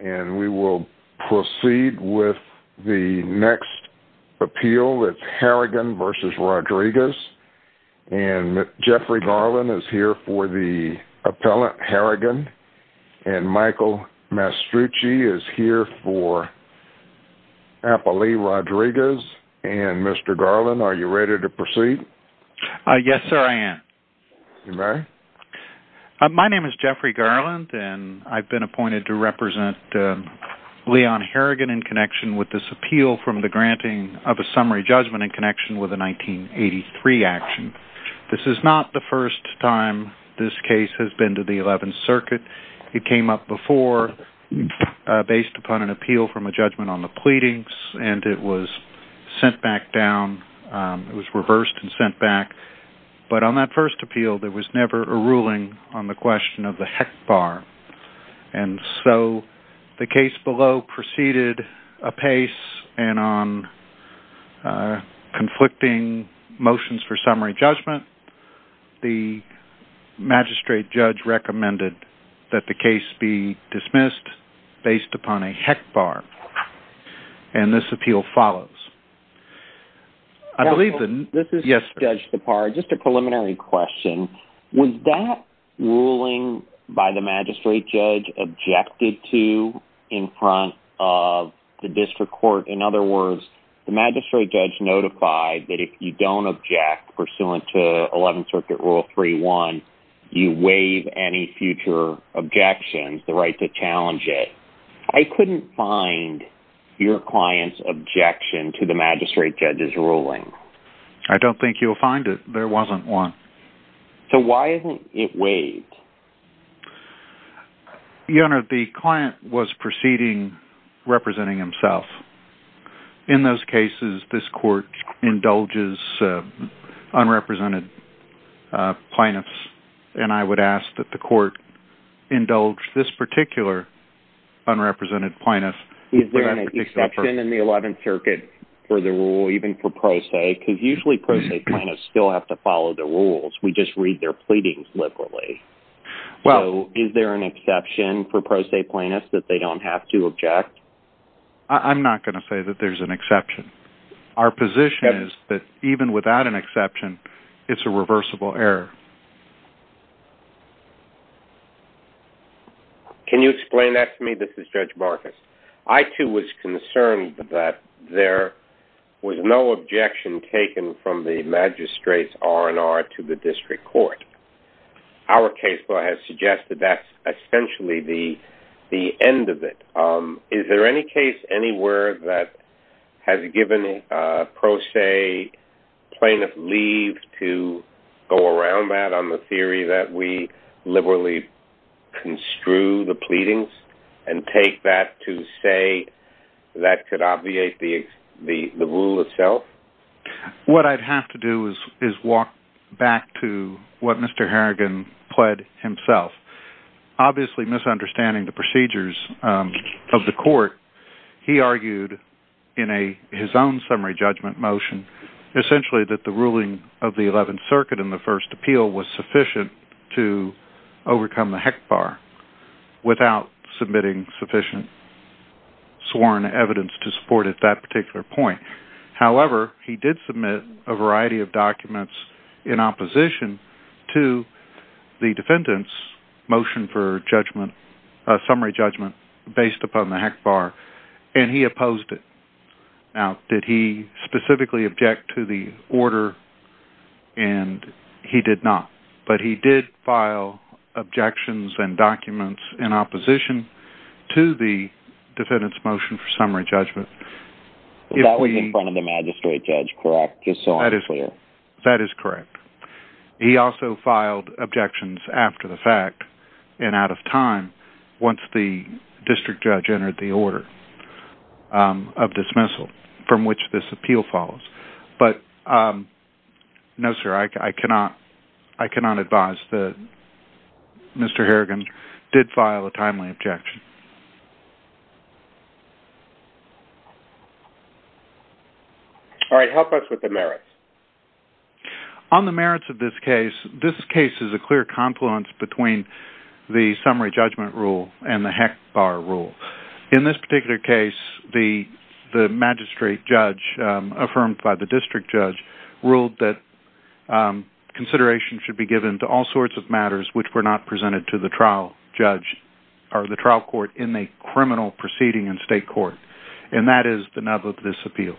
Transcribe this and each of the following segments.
And we will proceed with the next appeal. It's Harrigan v. Rodriquez. And Jeffrey Garland is here for the appellant, Harrigan. And Michael Mastrucci is here for appellee Rodriquez. And, Mr. Garland, are you ready to proceed? You may. My name is Jeffrey Garland, and I've been appointed to represent Leon Harrigan in connection with this appeal from the granting of a summary judgment in connection with the 1983 action. This is not the first time this case has been to the Eleventh Circuit. It came up before based upon an appeal from a judgment on the pleadings, and it was sent back down. It was reversed and sent back. But on that first appeal, there was never a ruling on the question of the heck bar. And so the case below proceeded apace, and on conflicting motions for summary judgment, the magistrate judge recommended that the case be dismissed based upon a heck bar. And this appeal follows. This is Judge Sipar. Just a preliminary question. Was that ruling by the magistrate judge objected to in front of the district court? In other words, the magistrate judge notified that if you don't object pursuant to Eleventh Circuit Rule 3.1, you waive any future objections, the right to challenge it. I couldn't find your client's objection to the magistrate judge's ruling. I don't think you'll find it. There wasn't one. So why isn't it waived? Your Honor, the client was proceeding representing himself. In those cases, this court indulges unrepresented plaintiffs, and I would ask that the court indulge this particular unrepresented plaintiff. Is there an exception in the Eleventh Circuit for the rule, even for pro se? Because usually pro se plaintiffs still have to follow the rules. We just read their pleadings liberally. So is there an exception for pro se plaintiffs that they don't have to object? I'm not going to say that there's an exception. Our position is that even without an exception, it's a reversible error. Can you explain that to me? This is Judge Marcus. I, too, was concerned that there was no objection taken from the magistrate's R&R to the district court. Our case law has suggested that's essentially the end of it. Is there any case anywhere that has given pro se plaintiff leave to go around that on the theory that we liberally construe the pleadings and take that to say that could obviate the rule itself? What I'd have to do is walk back to what Mr. Harrigan pled himself. Obviously, misunderstanding the procedures of the court, he argued in his own summary judgment motion, essentially, that the ruling of the Eleventh Circuit in the first appeal was sufficient to overcome the HECFAR without submitting sufficient sworn evidence to support it at that particular point. However, he did submit a variety of documents in opposition to the defendant's motion for summary judgment based upon the HECFAR, and he opposed it. Now, did he specifically object to the order? He did not. But he did file objections and documents in opposition to the defendant's motion for summary judgment. That was in front of the magistrate judge, correct? Just so I'm clear? That is correct. He also filed objections after the fact and out of time once the district judge entered the order of dismissal from which this appeal follows. But, no sir, I cannot advise that Mr. Harrigan did file a timely objection. All right, help us with the merits. On the merits of this case, this case is a clear confluence between the summary judgment rule and the HECFAR rule. In this particular case, the magistrate judge, affirmed by the district judge, ruled that consideration should be given to all sorts of matters which were not presented to the trial judge or the trial court in a criminal proceeding in state court. And that is the nub of this appeal,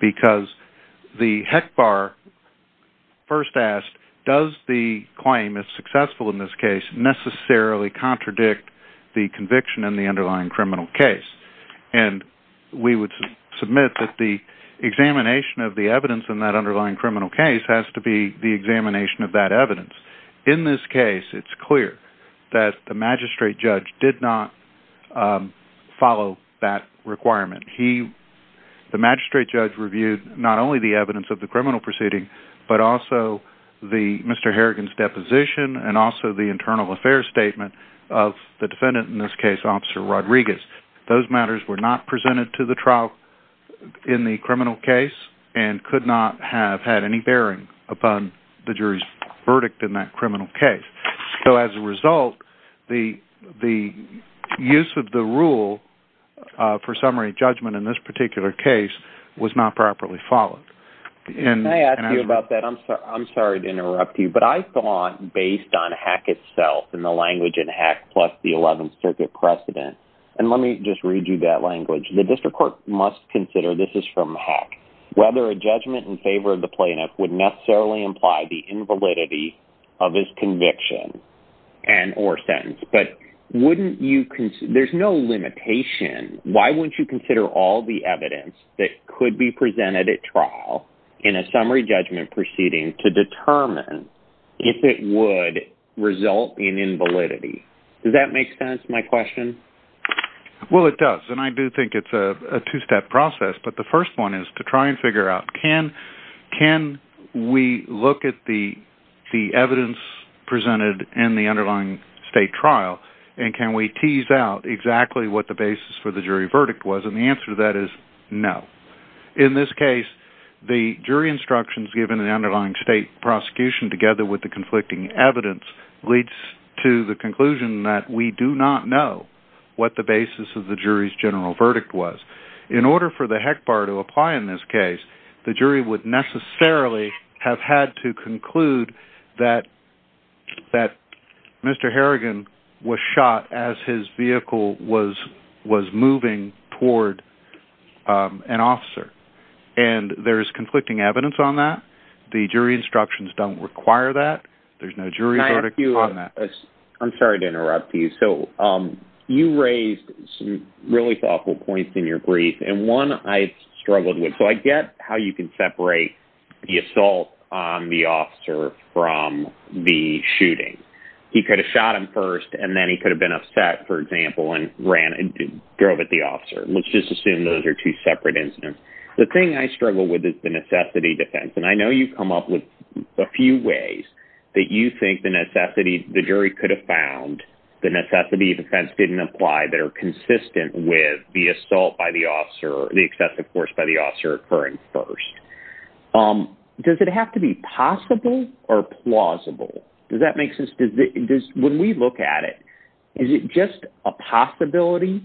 because the HECFAR first asked, does the claim, if successful in this case, necessarily contradict the conviction in the underlying criminal case? And we would submit that the examination of the evidence in that underlying criminal case has to be the examination of that evidence. In this case, it's clear that the magistrate judge did not follow that requirement. The magistrate judge reviewed not only the evidence of the criminal proceeding, but also Mr. Harrigan's deposition and also the internal affairs statement of the defendant, in this case, Officer Rodriguez. Those matters were not presented to the trial in the criminal case and could not have had any bearing upon the jury's verdict in that criminal case. So as a result, the use of the rule for summary judgment in this particular case was not properly followed. Can I ask you about that? I'm sorry to interrupt you, but I thought based on HEC itself and the language in HEC plus the 11th Circuit precedent, and let me just read you that language. The district court must consider, this is from HEC, whether a judgment in favor of the plaintiff would necessarily imply the invalidity of his conviction and or sentence. There's no limitation. Why wouldn't you consider all the evidence that could be presented at trial in a summary judgment proceeding to determine if it would result in invalidity? Does that make sense, my question? Well, it does, and I do think it's a two-step process, but the first one is to try and figure out can we look at the evidence presented in the underlying state trial and can we tease out exactly what the basis for the jury verdict was, and the answer to that is no. In this case, the jury instructions given in the underlying state prosecution together with the conflicting evidence leads to the conclusion that we do not know what the basis of the jury's general verdict was. In order for the HEC bar to apply in this case, the jury would necessarily have had to conclude that Mr. Harrigan was shot as his vehicle was moving toward an officer, and there is conflicting evidence on that. The jury instructions don't require that. There's no jury verdict on that. I'm sorry to interrupt you. So you raised some really thoughtful points in your brief, and one I struggled with. So I get how you can separate the assault on the officer from the shooting. He could have shot him first, and then he could have been upset, for example, and drove at the officer. Let's just assume those are two separate incidents. The thing I struggle with is the necessity defense, and I know you've come up with a few ways that you think the jury could have found the necessity defense didn't apply that are consistent with the assault by the officer, the excessive force by the officer occurring first. Does it have to be possible or plausible? When we look at it, is it just a possibility,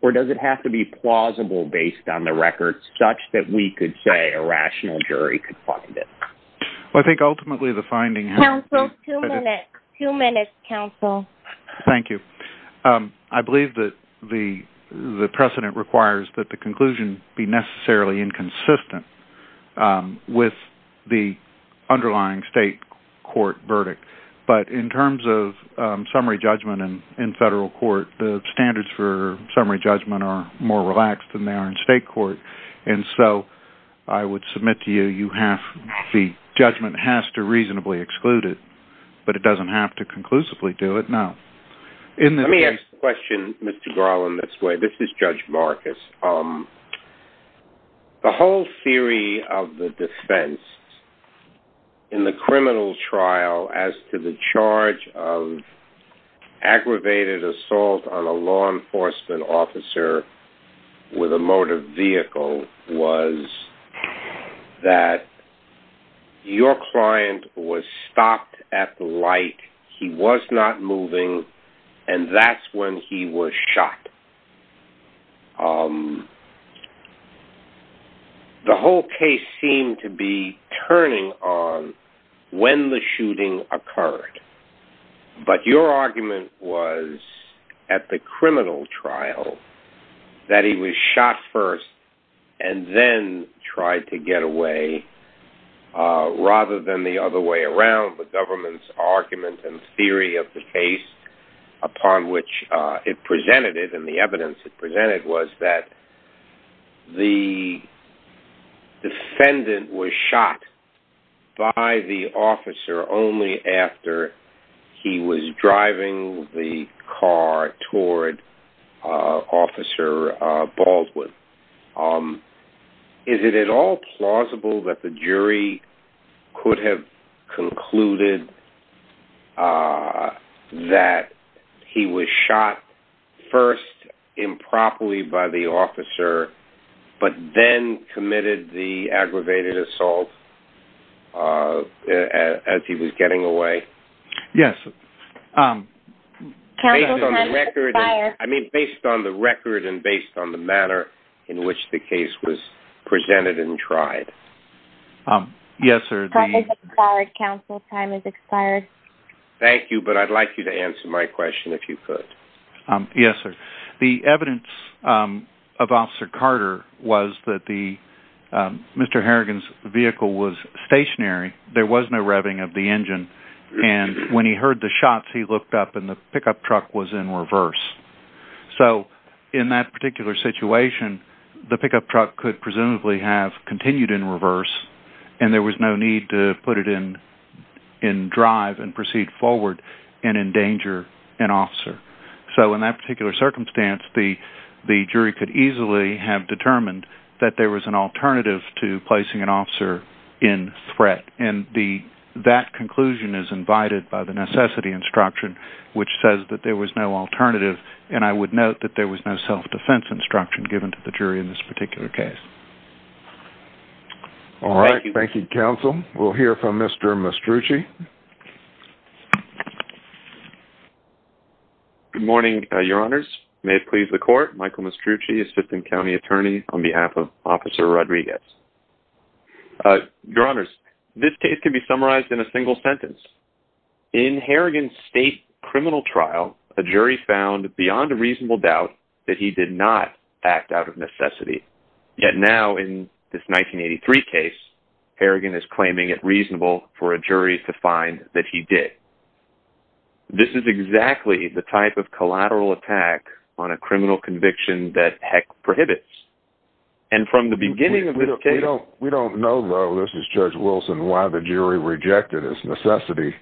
or does it have to be plausible based on the records such that we could say a rational jury could find it? Council, two minutes. Two minutes, Council. Thank you. I believe that the precedent requires that the conclusion be necessarily inconsistent with the underlying state court verdict, but in terms of summary judgment in federal court, the standards for summary judgment are more relaxed than they are in state court, and so I would submit to you the judgment has to reasonably exclude it, but it doesn't have to conclusively do it, no. Let me ask a question, Mr. Garland, this way. This is Judge Marcus. The whole theory of the defense in the criminal trial as to the charge of aggravated assault on a law enforcement officer with a motor vehicle was that your client was stopped at light, he was not moving, and that's when he was shot. The whole case seemed to be turning on when the shooting occurred, but your argument was at the criminal trial that he was shot first and then tried to get away, rather than the other way around, the government's argument and theory of the case upon which it presented it and the evidence it presented was that the defendant was shot by the officer only after he was driving the car toward Officer Baldwin. Is it at all plausible that the jury could have concluded that he was shot first improperly by the officer, but then committed the aggravated assault as he was getting away? Yes. Based on the record and based on the matter in which the case was presented and tried. Thank you, but I'd like you to answer my question if you could. Yes, sir. The evidence of Officer Carter was that Mr. Harrigan's vehicle was stationary, there was no revving of the engine, and when he heard the shots he looked up and the pickup truck was in reverse. So, in that particular situation, the pickup truck could presumably have continued in reverse and there was no need to put it in drive and proceed forward and endanger an officer. So, in that particular circumstance, the jury could easily have determined that there was an alternative to placing an officer in threat. And that conclusion is invited by the necessity instruction, which says that there was no alternative, and I would note that there was no self-defense instruction given to the jury in this particular case. All right. Thank you, counsel. We'll hear from Mr. Mastrucci. Good morning, Your Honors. May it please the Court, Michael Mastrucci, Assistant County Attorney on behalf of Officer Rodriguez. Your Honors, this case can be summarized in a single sentence. In Harrigan's state criminal trial, a jury found, beyond a reasonable doubt, that he did not act out of necessity. Yet now, in this 1983 case, Harrigan is claiming it reasonable for a jury to find that he did. This is exactly the type of collateral attack on a criminal conviction that, heck, prohibits. And from the beginning of this case... We don't know, though, this is Judge Wilson, why the jury rejected his necessity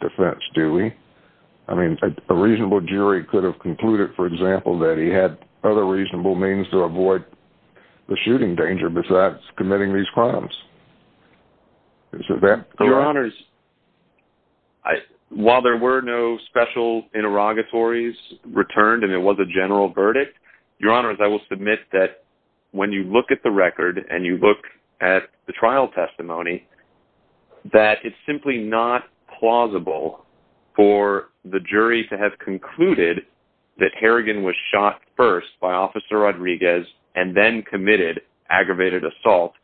defense, do we? I mean, a reasonable jury could have concluded, for example, that he had other reasonable means to avoid the shooting danger besides committing these crimes. Is it fair? Your Honors, while there were no special interrogatories returned and it was a general verdict, Your Honors, I will submit that when you look at the record and you look at the trial testimony, that it's simply not plausible for the jury to have concluded that Harrigan was shot first by Officer Rodriguez and then committed aggravated assault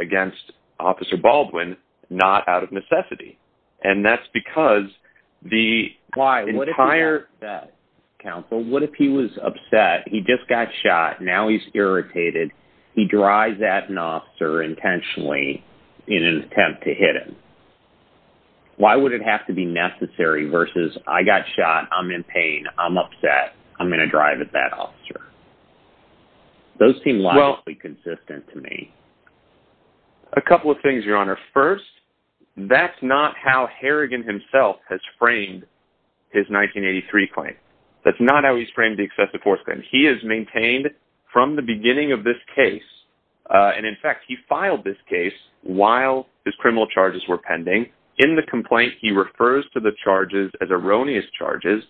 against Officer Baldwin, not out of necessity. And that's because the entire... Why? What if he was upset? He just got shot. Now he's irritated. He drives at an officer intentionally in an attempt to hit him. Why would it have to be necessary versus, I got shot, I'm in pain, I'm upset, I'm going to drive at that officer? Those seem logically consistent to me. A couple of things, Your Honor. First, that's not how Harrigan himself has framed his 1983 claim. That's not how he's framed the excessive force claim. He has maintained from the beginning of this case, and in fact, he filed this case while his criminal charges were pending. In the complaint, he refers to the charges as erroneous charges.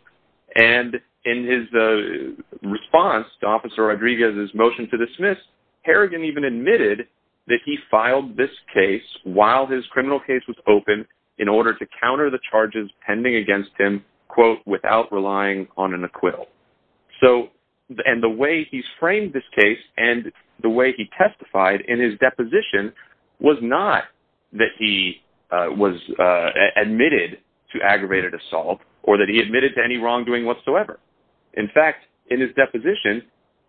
And in his response to Officer Rodriguez's motion to dismiss, Harrigan even admitted that he filed this case while his criminal case was open in order to counter the charges pending against him, quote, without relying on an acquittal. And the way he's framed this case and the way he testified in his deposition was not that he was admitted to aggravated assault or that he admitted to any wrongdoing whatsoever. In fact, in his deposition,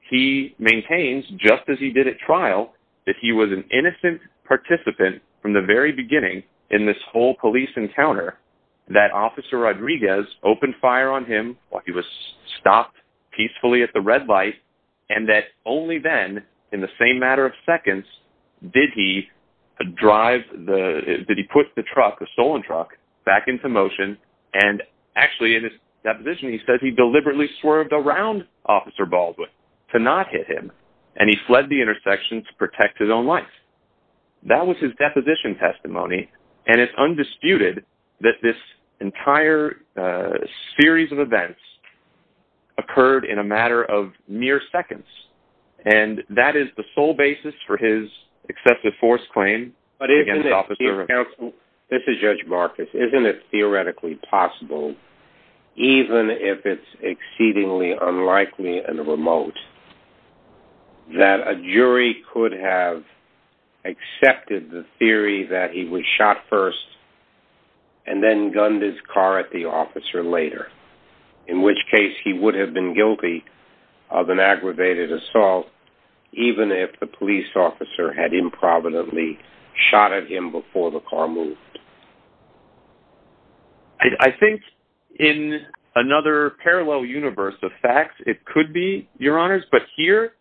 he maintains, just as he did at trial, that he was an innocent participant from the very beginning in this whole police encounter that Officer Rodriguez opened fire on him while he was stopped peacefully at the red light and that only then, in the same matter of seconds, did he put the stolen truck back into motion. And actually, in his deposition, he said he deliberately swerved around Officer Baldwin to not hit him and he fled the intersection to protect his own life. That was his deposition testimony, and it's undisputed that this entire series of events occurred in a matter of mere seconds. And that is the sole basis for his excessive force claim against Officer Rodriguez. But isn't it, Chief Counsel, this is Judge Marcus, isn't it theoretically possible, even if it's exceedingly unlikely and remote, that a jury could have accepted the theory that he was shot first and then gunned his car at the officer later? In which case, he would have been guilty of an aggravated assault even if the police officer had improvidently shot at him before the car moved. I think in another parallel universe of facts, it could be, Your Honors, but here,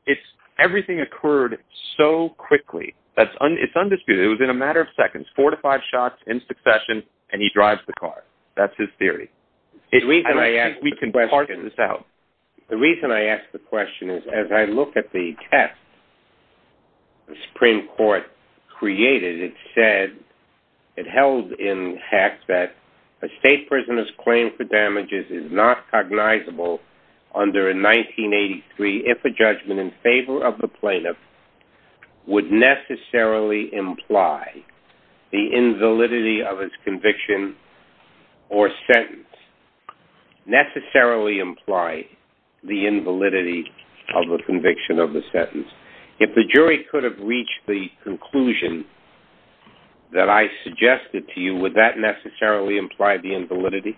everything occurred so quickly. It's undisputed. It was in a matter of seconds. Four to five shots in succession, and he drives the car. That's his theory. The reason I ask the question is, as I look at the test the Supreme Court created, it said, it held in hex that a state prisoner's claim for damages is not cognizable under a 1983 if a judgment in favor of the plaintiff would necessarily imply the invalidity of his conviction or sentence. Necessarily imply the invalidity of the conviction or the sentence. If the jury could have reached the conclusion that I suggested to you, would that necessarily imply the invalidity?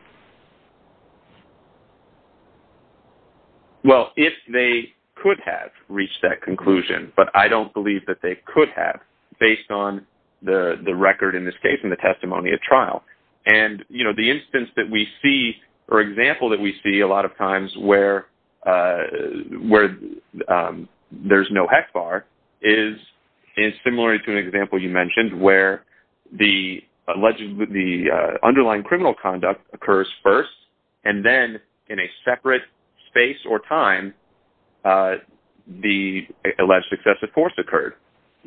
Well, if they could have reached that conclusion, but I don't believe that they could have based on the record in this case and the testimony at trial. The instance that we see or example that we see a lot of times where there's no hex bar is similar to an example you mentioned where the underlying criminal conduct occurs first and then in a separate space or time the alleged excessive force occurred.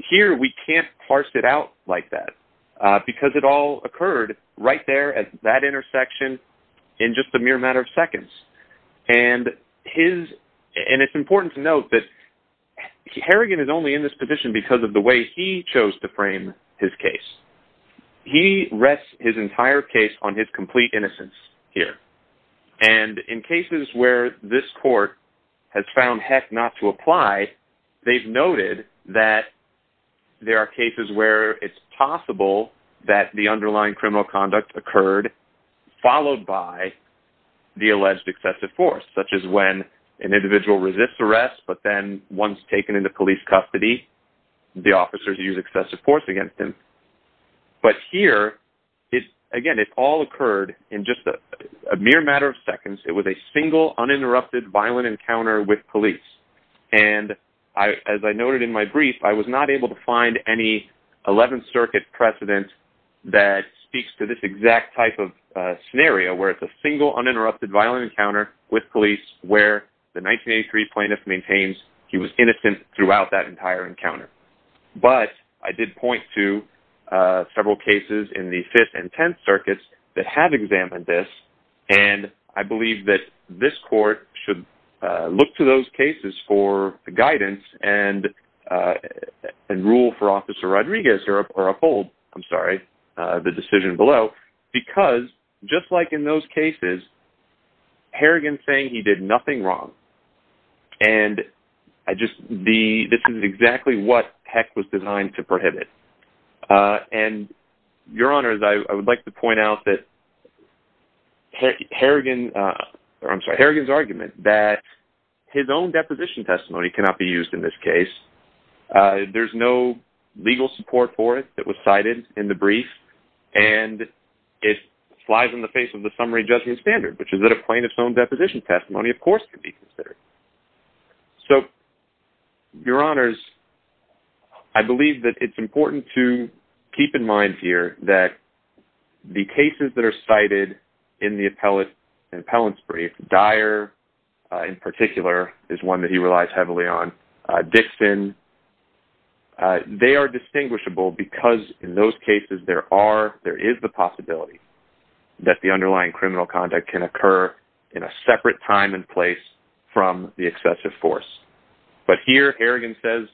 Here we can't parse it out like that because it all occurred right there at that intersection in just a mere matter of seconds. And it's important to note that Harrigan is only in this position because of the way he chose to frame his case. He rests his entire case on his complete innocence here. And in cases where this court has found heck not to apply, they've noted that there are cases where it's possible that the underlying criminal conduct occurred followed by the alleged excessive force, such as when an individual resists arrest, but then once taken into police custody, the officers use excessive force against him. But here, again, it all occurred in just a mere matter of seconds. It was a single uninterrupted violent encounter with police. And as I noted in my brief, I was not able to find any 11th Circuit precedent that speaks to this exact type of scenario where it's a single uninterrupted violent encounter with police where the 1983 plaintiff maintains he was innocent throughout that entire encounter. But I did point to several cases in the 5th and 10th Circuits that have examined this and I believe that this court should look to those cases for guidance and rule for Officer Rodriguez or Uphold, I'm sorry, the decision below because, just like in those cases, Harrigan's saying he did nothing wrong and this is exactly what heck was designed to prohibit. And, Your Honor, I would like to point out that Harrigan's argument that his own deposition testimony cannot be used in this case. There's no legal support for it that was cited in the brief and it flies in the face of the summary judgment standard which is that a plaintiff's own deposition testimony, of course, can be considered. So, Your Honors, I believe that it's important to keep in mind here that the cases that are cited in the appellant's brief, Dyer in particular is one that he relies heavily on, Dixon, they are distinguishable because in those cases there is the possibility that the underlying criminal conduct can occur in a separate time and place from the excessive force. But here, Harrigan says,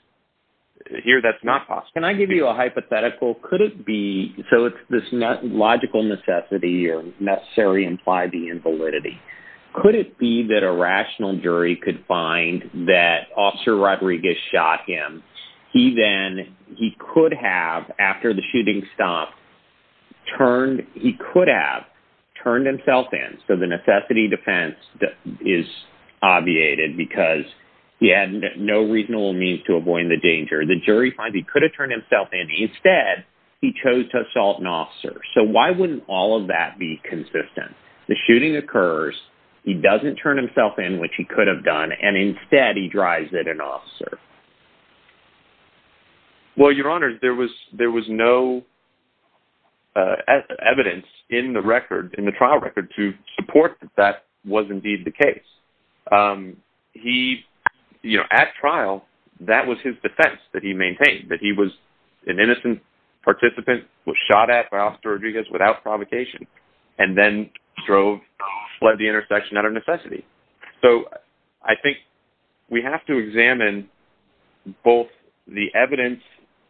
here that's not possible. Can I give you a hypothetical? Could it be, so it's this logical necessity or necessary implied the invalidity. Could it be that a rational jury could find that Officer Rodriguez shot him? He then, he could have, after the shooting stopped, he could have turned himself in. So the necessity defense is obviated because he had no reasonable means to avoid the danger. The jury finds he could have turned himself in. Instead, he chose to assault an officer. So why wouldn't all of that be consistent? The shooting occurs. He doesn't turn himself in, which he could have done, and instead he drives at an officer. Well, Your Honor, there was no evidence in the record, in the trial record, to support that that was indeed the case. He, you know, at trial, that was his defense that he maintained, that he was an innocent participant, was shot at by Officer Rodriguez without provocation, and then drove, fled the intersection out of necessity. So I think we have to examine both the evidence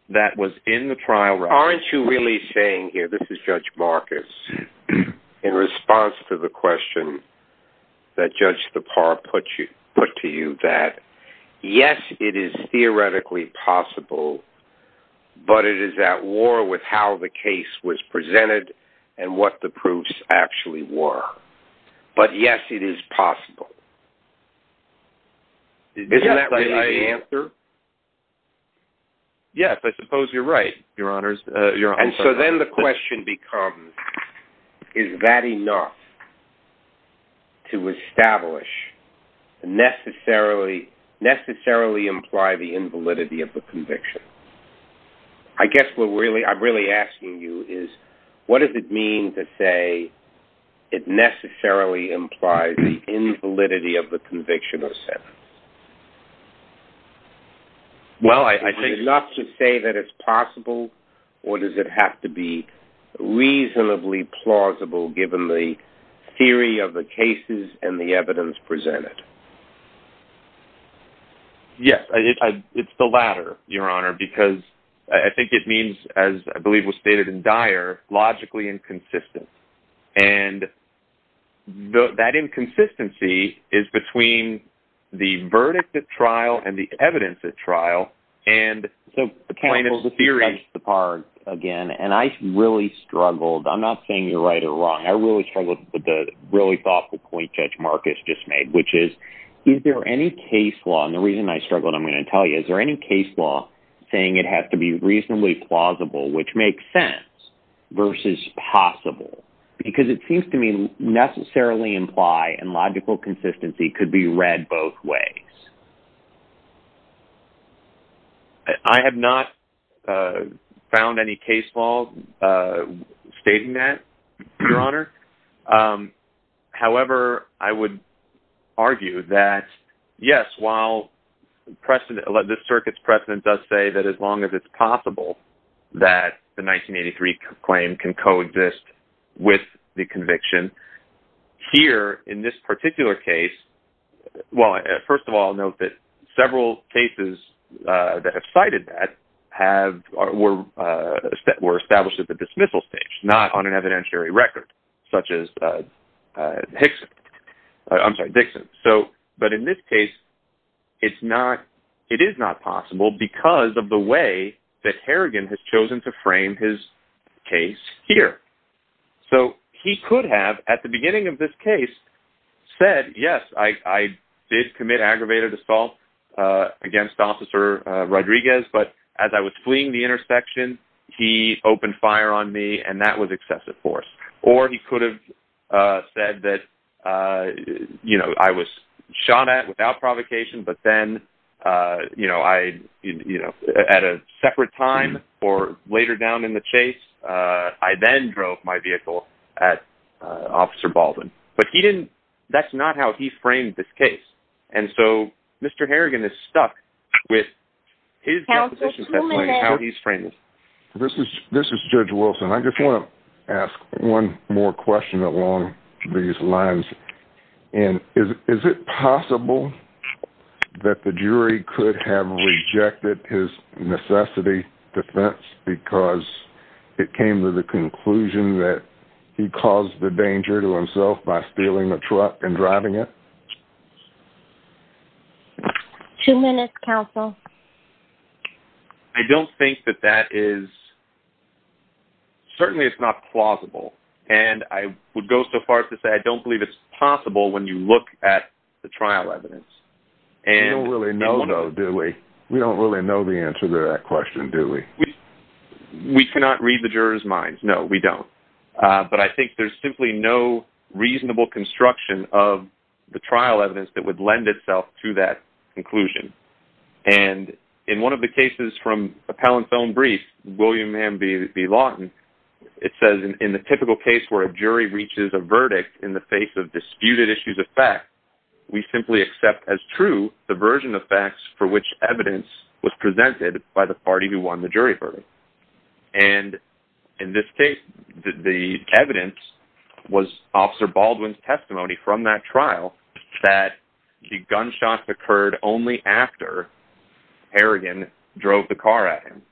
that was in the trial record. Aren't you really saying here, this is Judge Marcus, in response to the question that Judge Thapar put to you, that yes, it is theoretically possible, but it is at war with how the case was presented and what the proofs actually were. But yes, it is possible. Isn't that really the answer? Yes, I suppose you're right, Your Honors. And so then the question becomes, is that enough to establish necessarily imply the invalidity of the conviction? I guess what I'm really asking you is, what does it mean to say it necessarily implies the invalidity of the conviction of sentence? Well, I think... Do you say that it's possible, or does it have to be reasonably plausible, given the theory of the cases and the evidence presented? Yes, it's the latter, Your Honor, because I think it means, as I believe was stated in Dyer, logically inconsistent. And that inconsistency is between the verdict at trial and the evidence at trial. And the plaintiff's theory... So, counsel, this touches the part again, and I really struggled. I'm not saying you're right or wrong. I really struggled with the really thoughtful point Judge Marcus just made, which is, is there any case law, and the reason I struggled, I'm going to tell you, is there any case law saying it has to be reasonably plausible, which makes sense, versus possible? Because it seems to me necessarily imply, and logical consistency could be read both ways. I have not found any case law stating that, Your Honor. However, I would argue that, yes, while this circuit's precedent does say that as long as it's possible that the 1983 claim can coexist with the conviction, here, in this particular case... Well, first of all, note that several cases that have cited that were established at the dismissal stage, not on an evidentiary record, such as Dixon. But in this case, it is not possible because of the way that Harrigan has chosen to frame his case here. So he could have, at the beginning of this case, said, yes, I did commit aggravated assault against Officer Rodriguez, but as I was fleeing the intersection, he opened fire on me, and that was excessive force. Or he could have said that, you know, I was shot at without provocation, but then, you know, at a separate time, or later down in the chase, I then drove my vehicle at Officer Baldwin. But he didn't... That's not how he framed this case. And so Mr. Harrigan is stuck with his composition... Counsel, two minutes. This is Judge Wilson. I just want to ask one more question along these lines. And is it possible that the jury could have rejected his necessity defense because it came to the conclusion that he caused the danger to himself by stealing the truck and driving it? Two minutes, Counsel. I don't think that that is... Certainly it's not plausible. And I would go so far as to say I don't believe it's possible when you look at the trial evidence. We don't really know, though, do we? We don't really know the answer to that question, do we? We cannot read the jurors' minds. No, we don't. But I think there's simply no reasonable construction of the trial evidence that would lend itself to that conclusion. And in one of the cases from Appellant's own brief, William M. B. Lawton, it says in the typical case where a jury reaches a verdict in the face of disputed issues of fact, we simply accept as true the version of facts for which evidence was presented by the party who won the jury verdict. And in this case, the evidence was Officer Baldwin's testimony from that trial that the gunshots occurred only after Harrigan drove the car at him.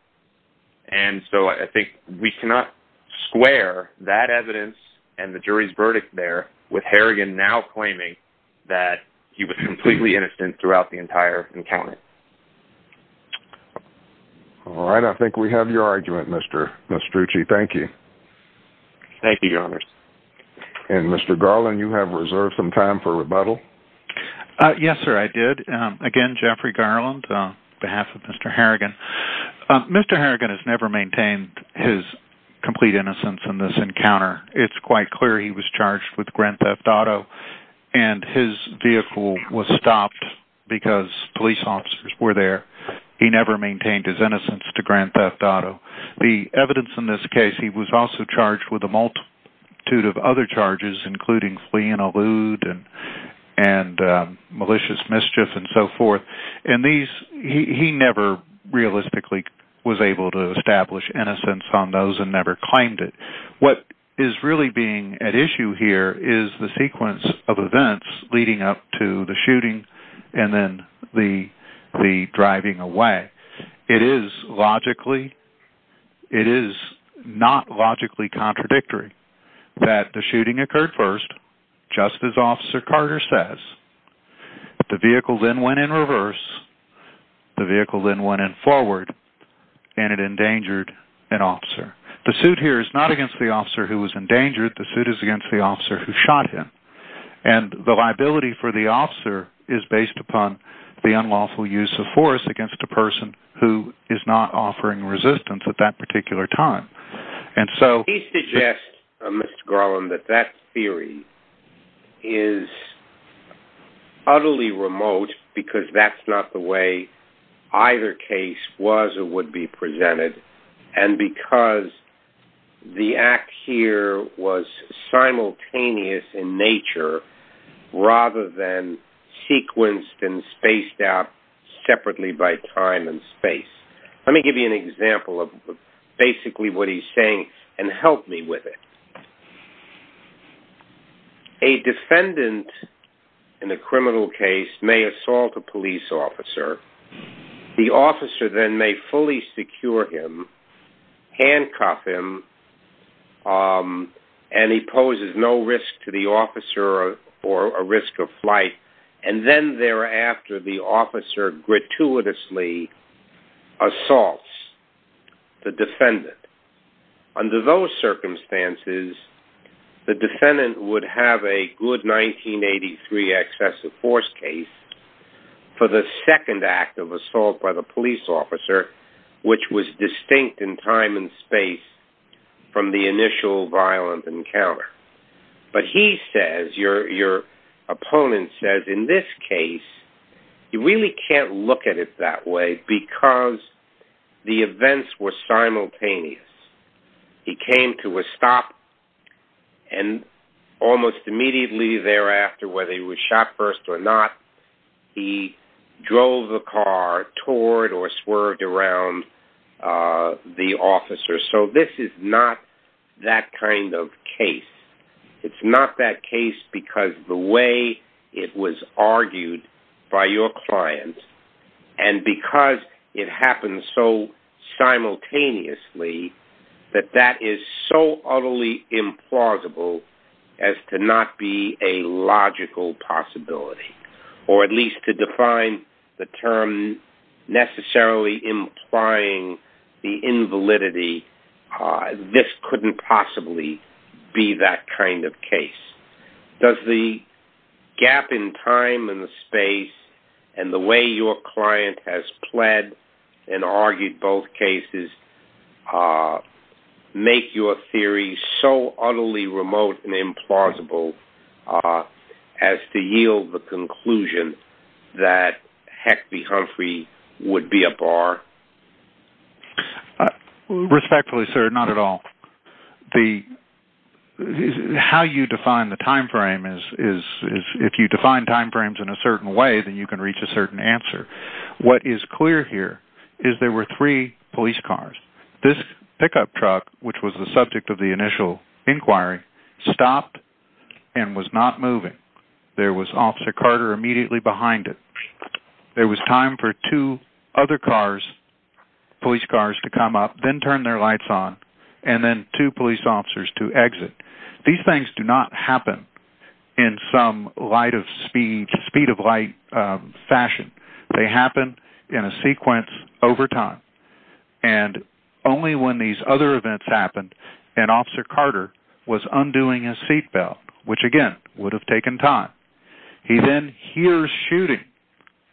And so I think we cannot square that evidence and the jury's verdict there with Harrigan now claiming that he was completely innocent throughout the entire encounter. All right, I think we have your argument, Mr. Rucci. Thank you. Thank you, Your Honors. And, Mr. Garland, you have reserved some time for rebuttal. Yes, sir, I did. Again, Jeffrey Garland on behalf of Mr. Harrigan. Mr. Harrigan has never maintained his complete innocence in this encounter. It's quite clear he was charged with grand theft auto, and his vehicle was stopped because police officers were there. He never maintained his innocence to grand theft auto. The evidence in this case, he was also charged with a multitude of other charges, including fleeing a lood and malicious mischief and so forth. He never realistically was able to establish innocence on those and never claimed it. What is really being at issue here is the sequence of events leading up to the shooting and then the driving away. It is logically, it is not logically contradictory that the shooting occurred first, just as Officer Carter says. The vehicle then went in reverse. The vehicle then went in forward, and it endangered an officer. The suit here is not against the officer who was endangered. The suit is against the officer who shot him. And the liability for the officer is based upon the unlawful use of force against a person who is not offering resistance at that particular time. And so he suggests, Mr. Garland, that that theory is utterly remote because that's not the way either case was or would be presented, and because the act here was simultaneous in nature rather than sequenced and spaced out separately by time and space. Let me give you an example of basically what he's saying, and help me with it. A defendant in a criminal case may assault a police officer. The officer then may fully secure him, handcuff him, and he poses no risk to the officer or a risk of flight, and then thereafter the officer gratuitously assaults the defendant. Under those circumstances, the defendant would have a good 1983 excessive force case for the second act of assault by the police officer, which was distinct in time and space from the initial violent encounter. But he says, your opponent says, in this case, you really can't look at it that way because the events were simultaneous. He came to a stop and almost immediately thereafter, whether he was shot first or not, he drove a car toward or swerved around the officer. So this is not that kind of case. It's not that case because the way it was argued by your client and because it happened so simultaneously that that is so utterly implausible as to not be a logical possibility, or at least to define the term necessarily implying the invalidity. This couldn't possibly be that kind of case. Does the gap in time and space and the way your client has pled and argued both cases make your theory so utterly remote and implausible as to yield the conclusion that Heckley-Humphrey would be a bar? Respectfully, sir, not at all. How you define the time frame is if you define time frames in a certain way, then you can reach a certain answer. What is clear here is there were three police cars. This pickup truck, which was the subject of the initial inquiry, stopped and was not moving. There was Officer Carter immediately behind it. There was time for two other police cars to come up, then turn their lights on, and then two police officers to exit. These things do not happen in some light-of-speed, speed-of-light fashion. They happen in a sequence over time. Only when these other events happened and Officer Carter was undoing his seatbelt, which again would have taken time, he then hears shooting,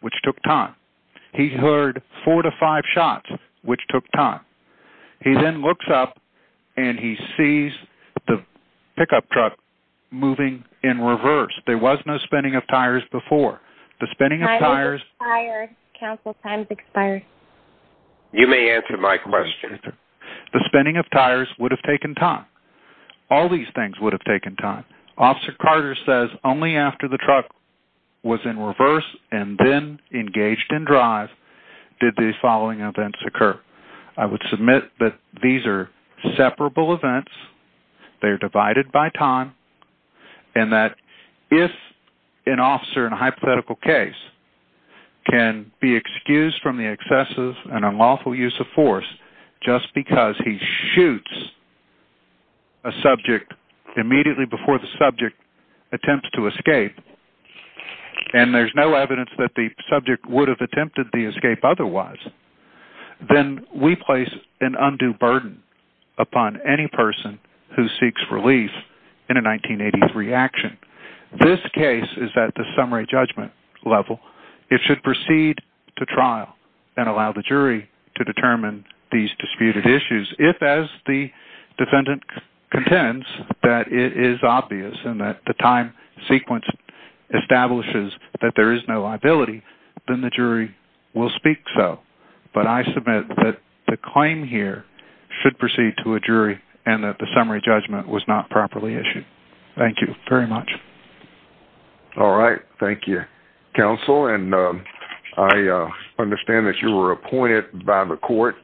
which took time. He heard four to five shots, which took time. He then looks up and he sees the pickup truck moving in reverse. There was no spinning of tires before. The spinning of tires... Time has expired. Counsel, time has expired. You may answer my question. The spinning of tires would have taken time. All these things would have taken time. Officer Carter says only after the truck was in reverse and then engaged in drive did these following events occur. I would submit that these are separable events. They are divided by time, and that if an officer in a hypothetical case can be excused from the excessive and unlawful use of force just because he shoots a subject immediately before the subject attempts to escape and there's no evidence that the subject would have attempted the escape otherwise, then we place an undue burden upon any person who seeks relief in a 1983 action. This case is at the summary judgment level. It should proceed to trial and allow the jury to determine these disputed issues. If, as the defendant contends, that it is obvious and that the time sequence establishes that there is no liability, then the jury will speak so. But I submit that the claim here should proceed to a jury and that the summary judgment was not properly issued. Thank you very much. All right. Thank you. Counsel, I understand that you were appointed by the court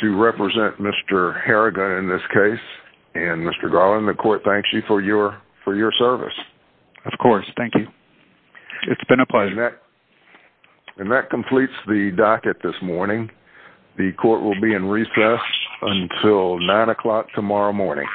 to represent Mr. Harrigan in this case, and Mr. Garland, the court thanks you for your service. Of course. Thank you. It's been a pleasure. And that completes the docket this morning. The court will be in recess until 9 o'clock tomorrow morning.